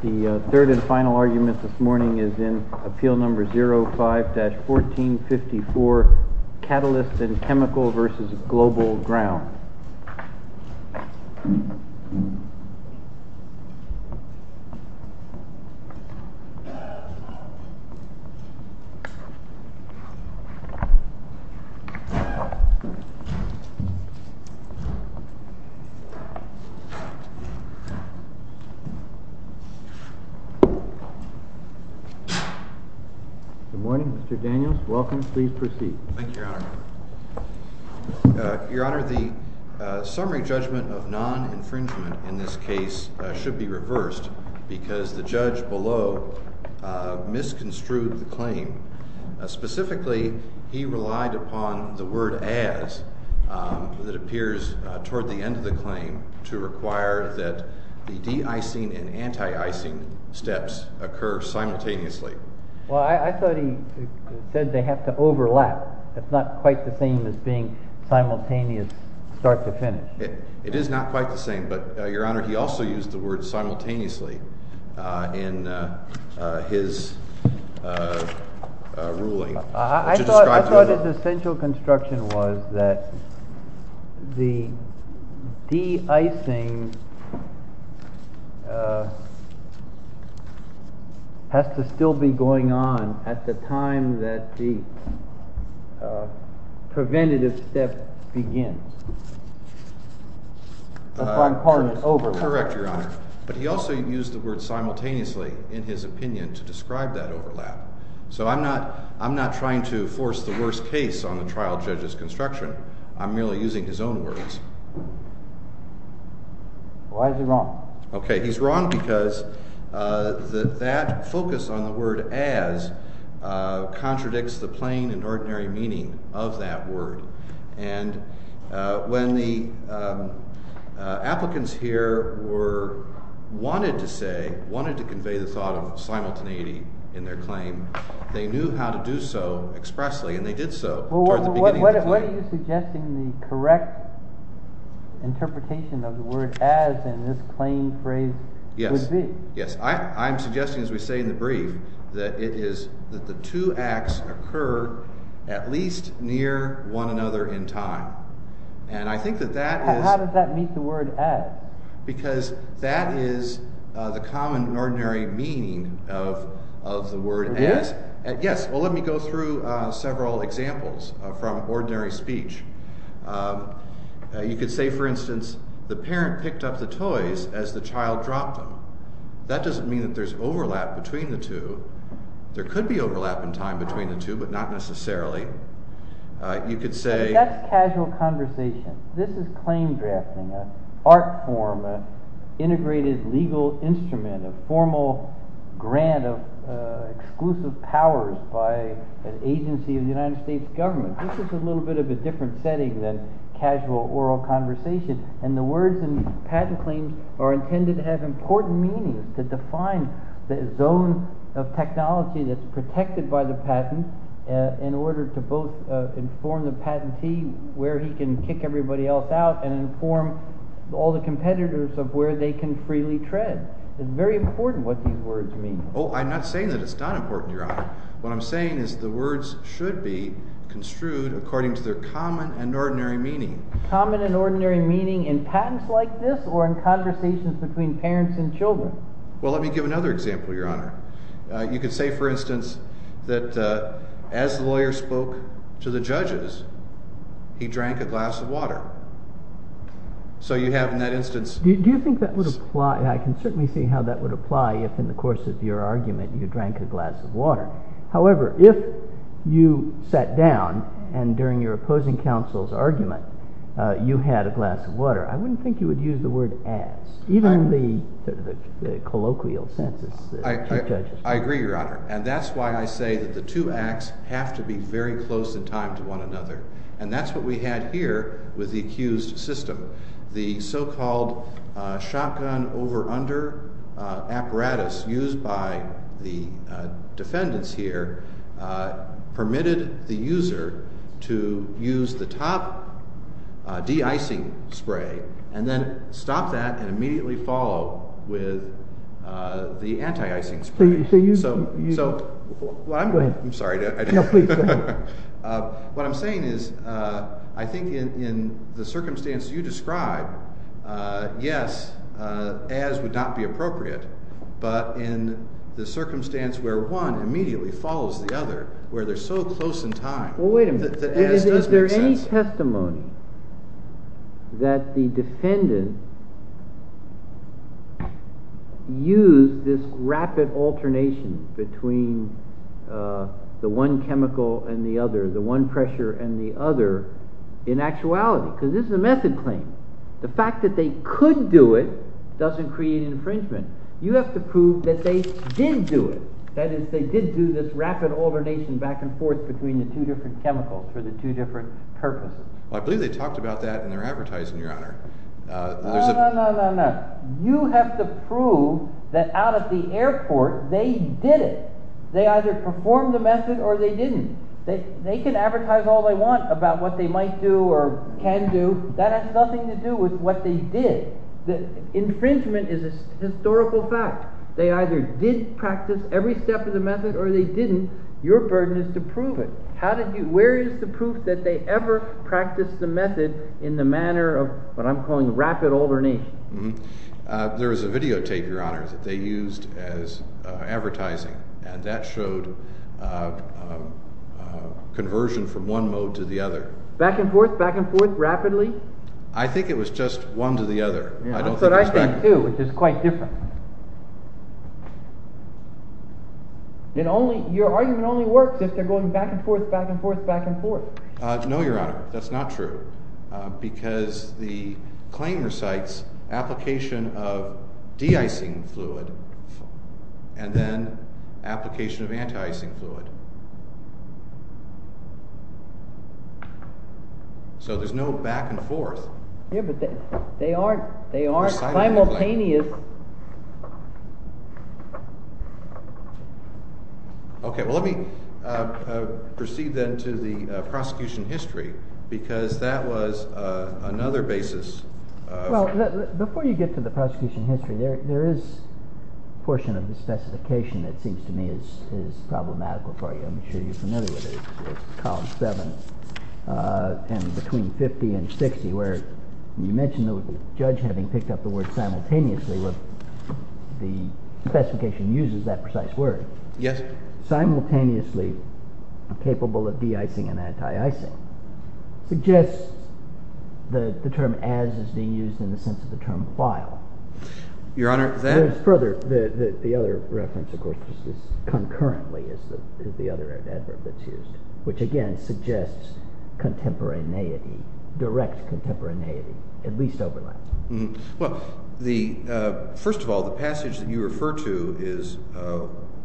The third and final argument this morning is in Appeal No. 05-1454, Catalyst & Chemical v. Global Ground. The summary judgment of non-infringement in this case should be reversed because the judge below misconstrued the claim. Specifically, he relied upon the word as that appears toward the end of the claim to require that the de-icing and anti-icing steps occur simultaneously. Well, I thought he said they have to overlap. That's not quite the same as being simultaneous start to finish. It is not quite the same, but your honor, he also used the word simultaneously in his ruling. I thought his essential construction was that the de-icing has to still be going on at the time that the preventative step begins. That's why I'm calling it overlap. Correct, your honor. But he also used the word simultaneously in his opinion to describe that overlap. So I'm not trying to force the worst case on the trial judge's construction. I'm merely using his own words. Why is he wrong? Okay, he's wrong because that focus on the word as contradicts the plain and ordinary meaning of that word. And when the applicants here wanted to convey the thought of simultaneity in their claim, they knew how to do so expressly, and they did so. What are you suggesting the correct interpretation of the word as in this claim phrase would be? Yes, I'm suggesting, as we say in the brief, that it is that the two acts occur at least near one another in time. How does that meet the word as? Because that is the common ordinary meaning of the word as. Yes, well let me go through several examples from ordinary speech. You could say, for instance, the parent picked up the toys as the child dropped them. That doesn't mean that there's overlap between the two. There could be overlap in time between the two, but not necessarily. That's casual conversation. This is claim drafting, an art form, an integrated legal instrument, a formal grant of exclusive powers by an agency of the United States government. This is a little bit of a different setting than casual oral conversation. And the words in patent claims are intended to have important meanings, to define the zone of technology that's protected by the patent in order to both inform the patentee where he can kick everybody else out and inform all the competitors of where they can freely tread. It's very important what these words mean. Oh, I'm not saying that it's not important, Your Honor. What I'm saying is the words should be construed according to their common and ordinary meaning. Common and ordinary meaning in patents like this or in conversations between parents and children? Well, let me give another example, Your Honor. You could say, for instance, that as the lawyer spoke to the judges, he drank a glass of water. So you have in that instance— Do you think that would apply? I can certainly see how that would apply if in the course of your argument you drank a glass of water. However, if you sat down and during your opposing counsel's argument you had a glass of water, I wouldn't think you would use the word as. Even in the colloquial sense. I agree, Your Honor. And that's why I say that the two acts have to be very close in time to one another. And that's what we had here with the accused system. The so-called shotgun over-under apparatus used by the defendants here permitted the user to use the top de-icing spray and then stop that and immediately follow with the anti-icing spray. So you— I'm sorry. No, please, go ahead. What I'm saying is I think in the circumstance you describe, yes, as would not be appropriate. But in the circumstance where one immediately follows the other, where they're so close in time— —that the defendant used this rapid alternation between the one chemical and the other, the one pressure and the other, in actuality. Because this is a method claim. The fact that they could do it doesn't create infringement. You have to prove that they did do it. That is, they did do this rapid alternation back and forth between the two different chemicals for the two different purposes. Well, I believe they talked about that in their advertising, Your Honor. No, no, no, no, no. You have to prove that out at the airport they did it. They either performed the method or they didn't. They can advertise all they want about what they might do or can do. That has nothing to do with what they did. Infringement is a historical fact. They either did practice every step of the method or they didn't. Your burden is to prove it. Where is the proof that they ever practiced the method in the manner of what I'm calling rapid alternation? There is a videotape, Your Honor, that they used as advertising, and that showed conversion from one mode to the other. Back and forth, back and forth, rapidly? I think it was just one to the other. That's what I think, too, which is quite different. Your argument only works if they're going back and forth, back and forth, back and forth. No, Your Honor, that's not true because the claim recites application of de-icing fluid and then application of anti-icing fluid. So there's no back and forth. Yeah, but they aren't simultaneous. Okay, well, let me proceed then to the prosecution history because that was another basis. Well, before you get to the prosecution history, there is a portion of the specification that seems to me is problematical for you. I'm sure you're familiar with it. It's column 7 and between 50 and 60 where you mentioned the judge having picked up the word simultaneously. The specification uses that precise word. Yes. Simultaneously capable of de-icing and anti-icing suggests that the term as is being used in the sense of the term file. Your Honor, that… The other reference, of course, is concurrently is the other adverb that's used, which again suggests contemporaneity, direct contemporaneity, at least overlaps. Well, first of all, the passage that you refer to is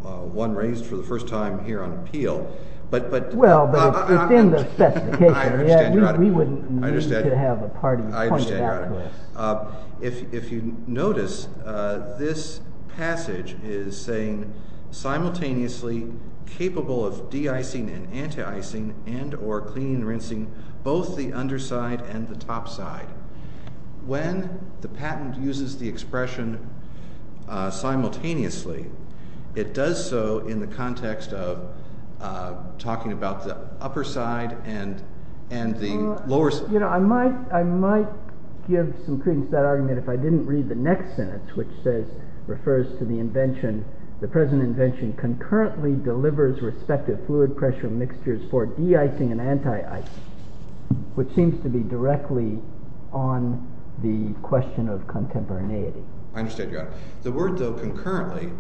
one raised for the first time here on appeal. Well, it's in the specification. I understand, Your Honor. We wouldn't need to have a party to point it out with. If you notice, this passage is saying simultaneously capable of de-icing and anti-icing and or cleaning and rinsing both the underside and the topside. When the patent uses the expression simultaneously, it does so in the context of talking about the upper side and the lower side. I might give some credence to that argument if I didn't read the next sentence, which refers to the invention. The present invention concurrently delivers respective fluid pressure mixtures for de-icing and anti-icing, which seems to be directly on the question of contemporaneity. The word, though, concurrently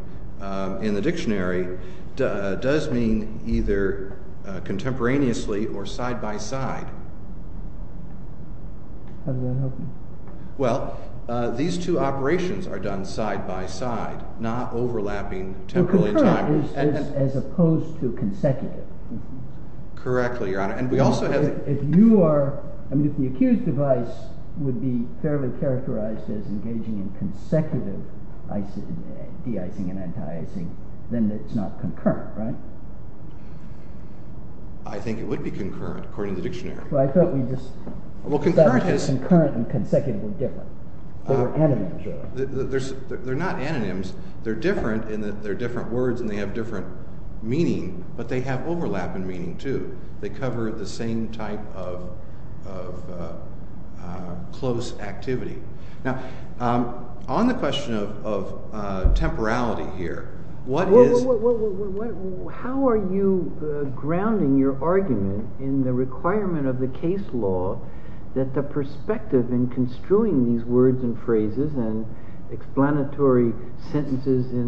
in the dictionary does mean either contemporaneously or side-by-side. How does that help me? Well, these two operations are done side-by-side, not overlapping temporarily in time. Well, concurrently as opposed to consecutive. Correctly, Your Honor. And we also have… If the accused device would be fairly characterized as engaging in consecutive de-icing and anti-icing, then it's not concurrent, right? I think it would be concurrent, according to the dictionary. Well, I thought we just… Well, concurrent is… I thought concurrent and consecutive were different. They were anonyms, really. They're not anonyms. They're different in that they're different words and they have different meaning, but they have overlap in meaning, too. They cover the same type of close activity. Now, on the question of temporality here, what is… in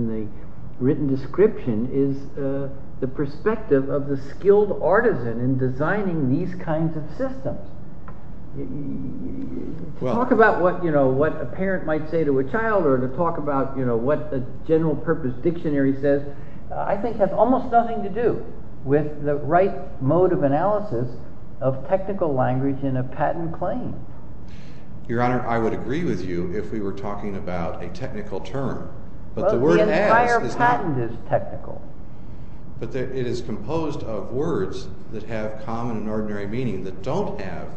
the written description is the perspective of the skilled artisan in designing these kinds of systems. To talk about what a parent might say to a child or to talk about what a general-purpose dictionary says I think has almost nothing to do with the right mode of analysis of technical language in a patent claim. Your Honor, I would agree with you if we were talking about a technical term. But the entire patent is technical. But it is composed of words that have common and ordinary meaning that don't have…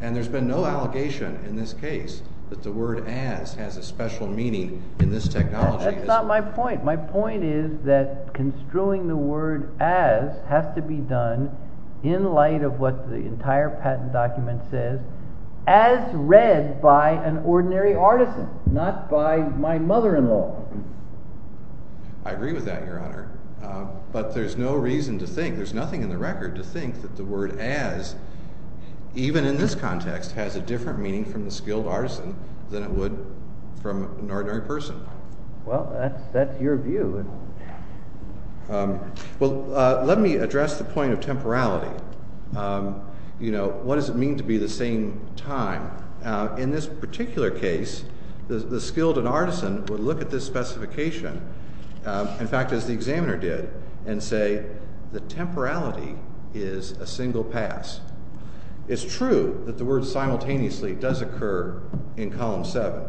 And there's been no allegation in this case that the word as has a special meaning in this technology. That's not my point. My point is that construing the word as has to be done in light of what the entire patent document says as read by an ordinary artisan, not by my mother-in-law. I agree with that, Your Honor. But there's no reason to think, there's nothing in the record to think that the word as, even in this context, has a different meaning from the skilled artisan than it would from an ordinary person. Well, that's your view. Well, let me address the point of temporality. You know, what does it mean to be the same time? In this particular case, the skilled artisan would look at this specification, in fact, as the examiner did, and say the temporality is a single pass. It's true that the word simultaneously does occur in Column 7.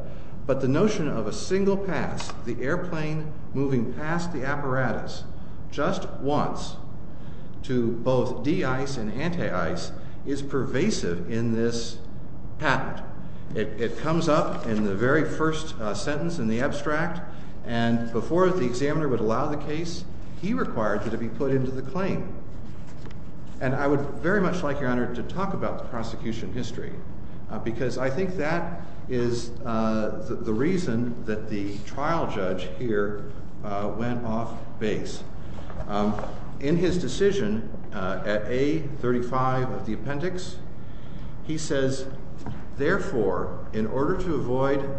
But the notion of a single pass, the airplane moving past the apparatus just once to both de-ice and anti-ice is pervasive in this patent. It comes up in the very first sentence in the abstract. And before the examiner would allow the case, he required that it be put into the claim. And I would very much like, Your Honor, to talk about the prosecution history. Because I think that is the reason that the trial judge here went off base. In his decision at A35 of the appendix, he says, Therefore, in order to avoid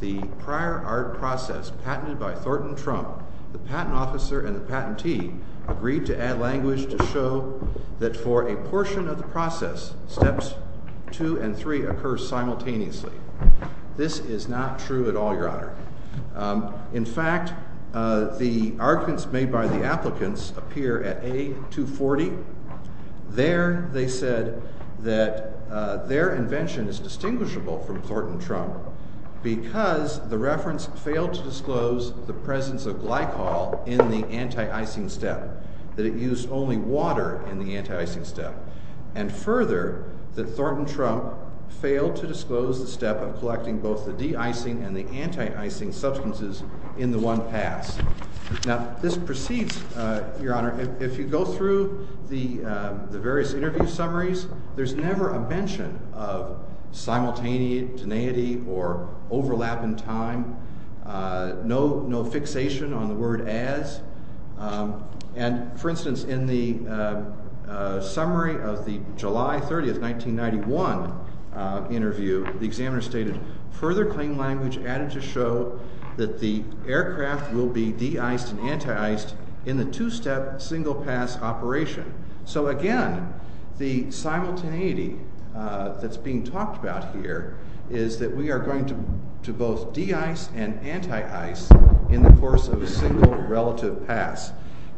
the prior art process patented by Thornton Trump, the patent officer and the patentee agreed to add language to show that for a portion of the process, steps 2 and 3 occur simultaneously. This is not true at all, Your Honor. In fact, the arguments made by the applicants appear at A240. There they said that their invention is distinguishable from Thornton Trump because the reference failed to disclose the presence of glycol in the anti-icing step. That it used only water in the anti-icing step. And further, that Thornton Trump failed to disclose the step of collecting both the de-icing and the anti-icing substances in the one pass. Now, this proceeds, Your Honor, if you go through the various interview summaries, there's never a mention of simultaneity or overlap in time. No fixation on the word as. And, for instance, in the summary of the July 30, 1991 interview, the examiner stated, Further claim language added to show that the aircraft will be de-iced and anti-iced in the two-step single pass operation. So, again, the simultaneity that's being talked about here is that we are going to both de-ice and anti-ice in the course of a single relative pass.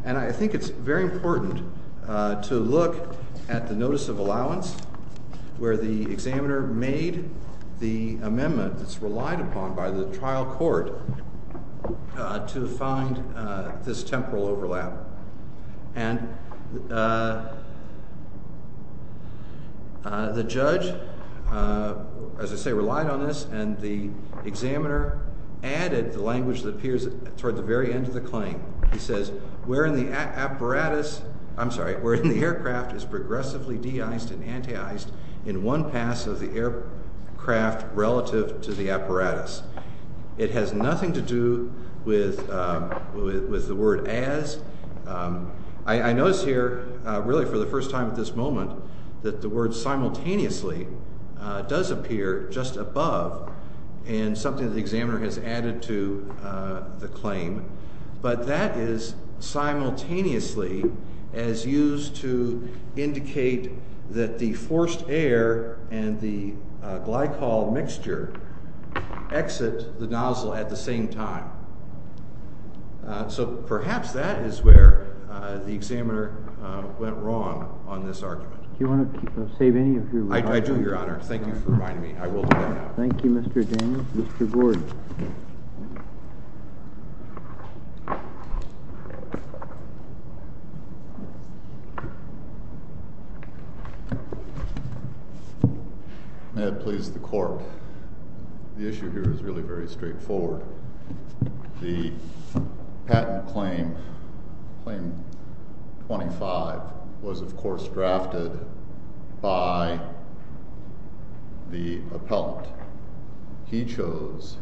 And I think it's very important to look at the notice of allowance where the examiner made the amendment that's relied upon by the trial court to find this temporal overlap. And the judge, as I say, relied on this, and the examiner added the language that appears toward the very end of the claim. He says, Where in the aircraft is progressively de-iced and anti-iced in one pass of the aircraft relative to the apparatus. It has nothing to do with the word as. I notice here, really for the first time at this moment, that the word simultaneously does appear just above in something the examiner has added to the claim. But that is simultaneously as used to indicate that the forced air and the glycol mixture exit the nozzle at the same time. So perhaps that is where the examiner went wrong on this argument. Do you want to save any of your time? I do, Your Honor. Thank you for reminding me. I will do that now. Thank you, Mr. James. Mr. Gordon. May it please the court. The issue here is really very straightforward. The patent claim, Claim 25, was of course drafted by the appellant. He chose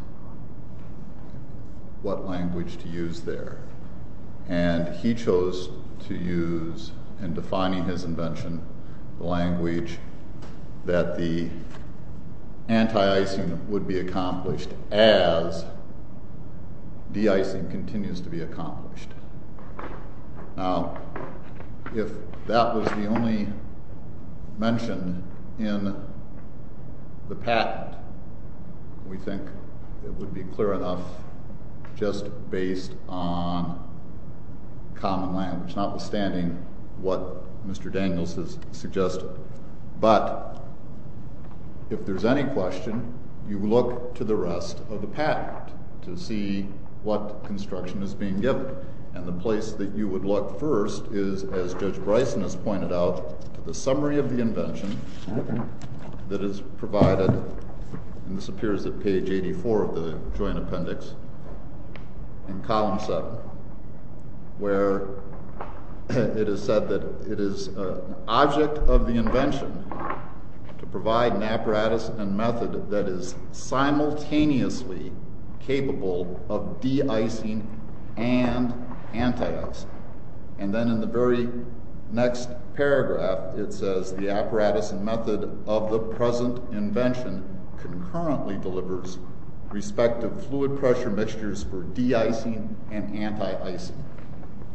what language to use there. And he chose to use, in defining his invention, the language that the anti-icing would be accomplished as de-icing continues to be accomplished. Now, if that was the only mention in the patent, we think it would be clear enough just based on common language, notwithstanding what Mr. Daniels has suggested. But if there's any question, you look to the rest of the patent to see what construction is being given. And the place that you would look first is, as Judge Bryson has pointed out, the summary of the invention that is provided. And this appears at page 84 of the joint appendix in column 7, where it is said that it is an object of the invention to provide an apparatus and method that is simultaneously capable of de-icing and anti-icing. And then in the very next paragraph, it says the apparatus and method of the present invention concurrently delivers respective fluid pressure mixtures for de-icing and anti-icing.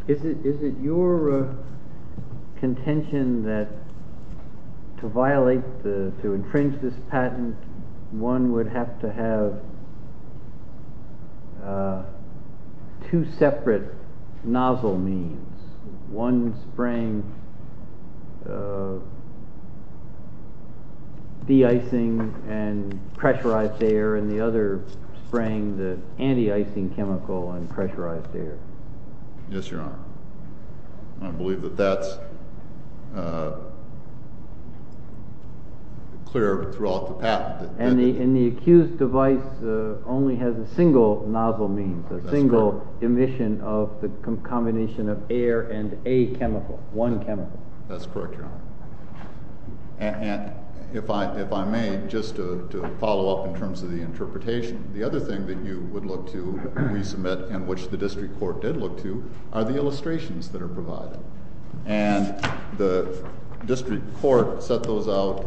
Is it your contention that to violate, to infringe this patent, one would have to have two separate nozzle means, one spraying de-icing and pressurized air and the other spraying the anti-icing chemical and pressurized air? Yes, Your Honor. I believe that that's clear throughout the patent. And the accused device only has a single nozzle means, a single emission of the combination of air and a chemical, one chemical. That's correct, Your Honor. And if I may, just to follow up in terms of the interpretation, the other thing that you would look to resubmit and which the district court did look to are the illustrations that are provided. And the district court set those out.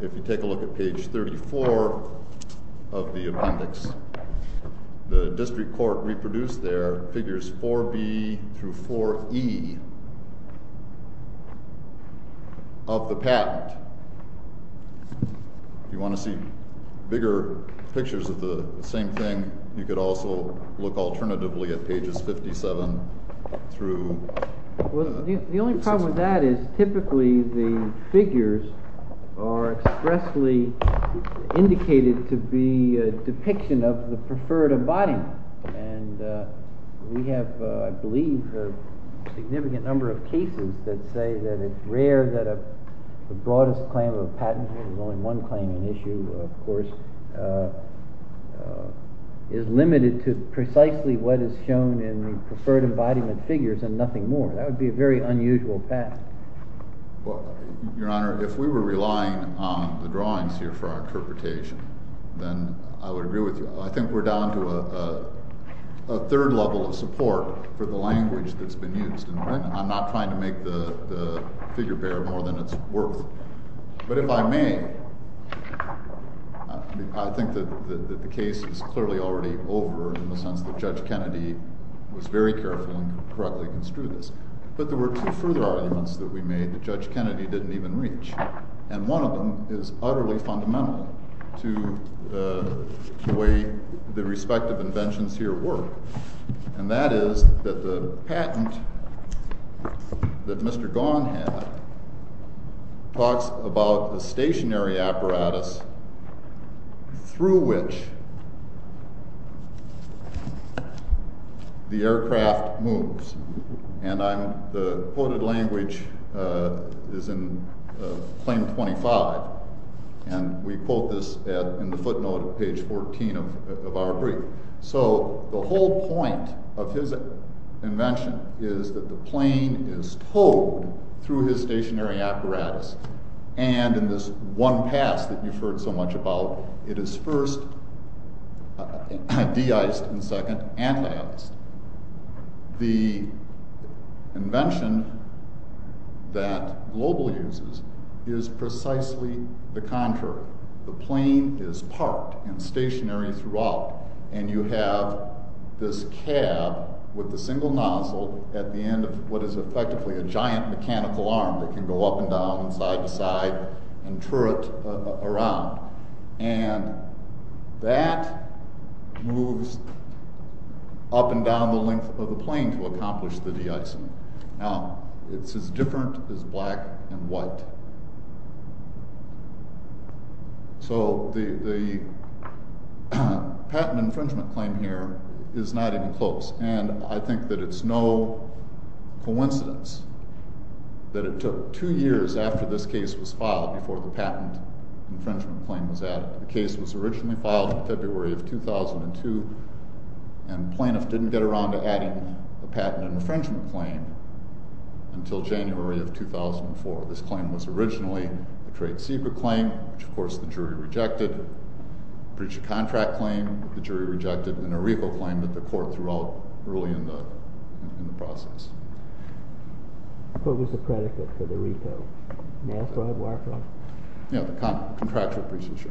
If you take a look at page 34 of the appendix, the district court reproduced their figures 4B through 4E of the patent. If you want to see bigger pictures of the same thing, you could also look alternatively at pages 57 through 6. The problem with that is typically the figures are expressly indicated to be a depiction of the preferred embodiment. And we have, I believe, a significant number of cases that say that it's rare that the broadest claim of a patent, there's only one claim in issue, of course, is limited to precisely what is shown in preferred embodiment figures and nothing more. That would be a very unusual path. Well, Your Honor, if we were relying on the drawings here for our interpretation, then I would agree with you. I think we're down to a third level of support for the language that's been used. And I'm not trying to make the figure bear more than it's worth. But if I may, I think that the case is clearly already over in the sense that Judge Kennedy was very careful and correctly construed this. But there were two further arguments that we made that Judge Kennedy didn't even reach. And one of them is utterly fundamental to the way the respective inventions here work. And that is that the patent that Mr. Gaughan had talks about the stationary apparatus through which the aircraft moves. And the quoted language is in Claim 25. And we quote this in the footnote at page 14 of our brief. So the whole point of his invention is that the plane is towed through his stationary apparatus. And in this one pass that you've heard so much about, it is first de-iced and second anti-iced. The invention that Global uses is precisely the contrary. The plane is parked and stationary throughout. And you have this cab with a single nozzle at the end of what is effectively a giant mechanical arm that can go up and down and side to side and turret around. And that moves up and down the length of the plane to accomplish the de-icing. Now it's as different as black and white. So the patent infringement claim here is not even close. And I think that it's no coincidence that it took two years after this case was filed before the patent infringement claim was added. The case was originally filed in February of 2002. And plaintiffs didn't get around to adding a patent infringement claim until January of 2004. So this claim was originally a trade secret claim, which, of course, the jury rejected. Breach of contract claim, the jury rejected. And a repo claim that the court threw out early in the process. What was the predicate for the repo? Nail fraud, wire fraud? Yeah, the contractual breaches, yeah.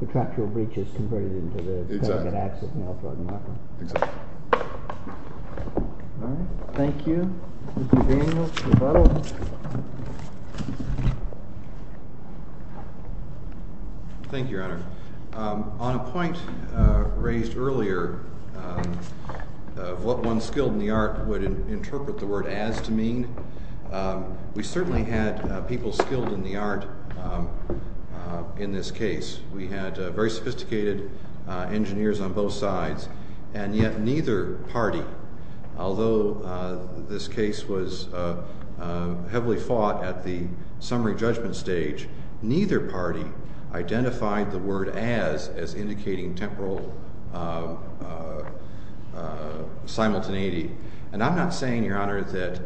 Contractual breaches converted into the patent access, nail fraud, and wire fraud. Exactly. All right. Thank you. Mr. Daniels, rebuttal. Thank you, Your Honor. On a point raised earlier of what one skilled in the art would interpret the word as to mean, we certainly had people skilled in the art in this case. We had very sophisticated engineers on both sides. And yet neither party, although this case was heavily fought at the summary judgment stage, neither party identified the word as as indicating temporal simultaneity. And I'm not saying, Your Honor, that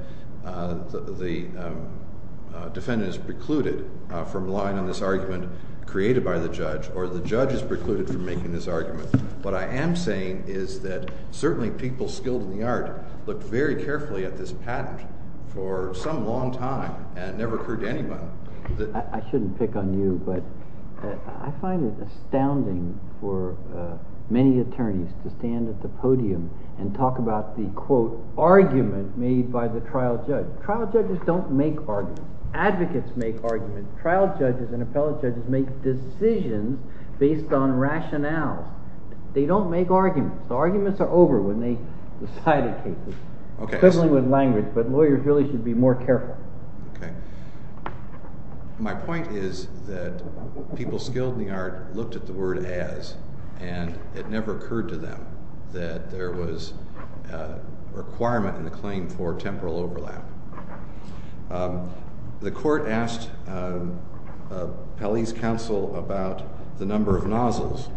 the defendant is precluded from relying on this argument created by the judge or the judge is precluded from making this argument. What I am saying is that certainly people skilled in the art looked very carefully at this patent for some long time and never heard anybody. I shouldn't pick on you, but I find it astounding for many attorneys to stand at the podium and talk about the, quote, argument made by the trial judge. Trial judges don't make arguments. Advocates make arguments. Trial judges and appellate judges make decisions based on rationale. They don't make arguments. The arguments are over when they decide a case, especially with language. But lawyers really should be more careful. Okay. My point is that people skilled in the art looked at the word as, and it never occurred to them that there was a requirement in the claim for temporal overlap. The court asked Pelley's counsel about the number of nozzles.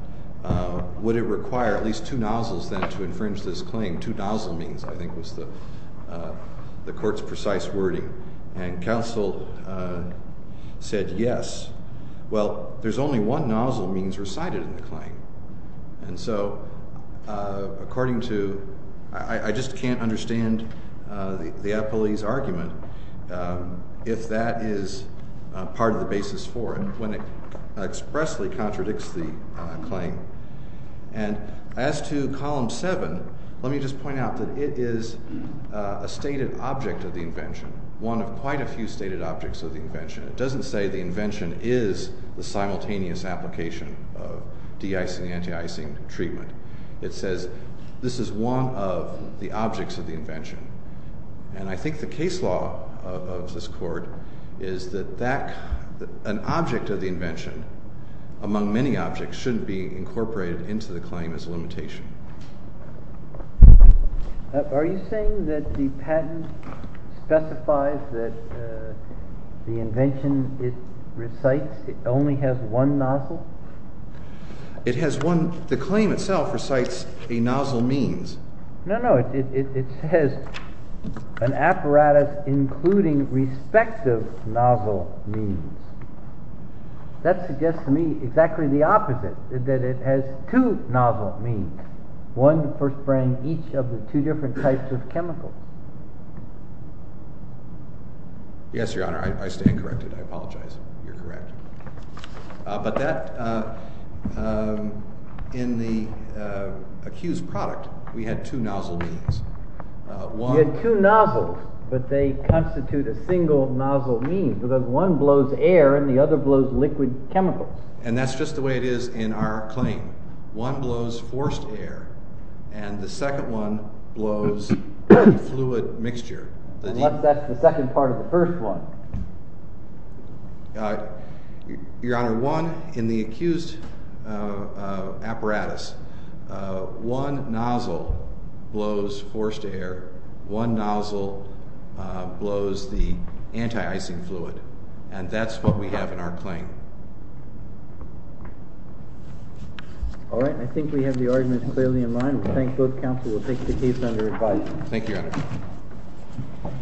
Would it require at least two nozzles then to infringe this claim? Two nozzle means, I think, was the court's precise wording. And counsel said yes. Well, there's only one nozzle means recited in the claim. And so according to, I just can't understand the appellee's argument if that is part of the basis for it when it expressly contradicts the claim. And as to Column 7, let me just point out that it is a stated object of the invention, one of quite a few stated objects of the invention. It doesn't say the invention is the simultaneous application of de-icing, anti-icing treatment. It says this is one of the objects of the invention. And I think the case law of this court is that an object of the invention, among many objects, shouldn't be incorporated into the claim as a limitation. Are you saying that the patent specifies that the invention it recites, it only has one nozzle? It has one. The claim itself recites a nozzle means. No, no. It says an apparatus including respective nozzle means. That suggests to me exactly the opposite, that it has two nozzle means, one for spraying each of the two different types of chemicals. Yes, Your Honor. I stand corrected. I apologize. You're correct. But that, in the accused product, we had two nozzle means. You had two nozzles, but they constitute a single nozzle means, because one blows air and the other blows liquid chemicals. And that's just the way it is in our claim. One blows forced air, and the second one blows a fluid mixture. And what's the second part of the first one? Your Honor, one, in the accused apparatus, one nozzle blows forced air, one nozzle blows the anti-icing fluid. And that's what we have in our claim. All right. I think we have the arguments clearly in line. We thank both counsel. Thank you, Your Honor.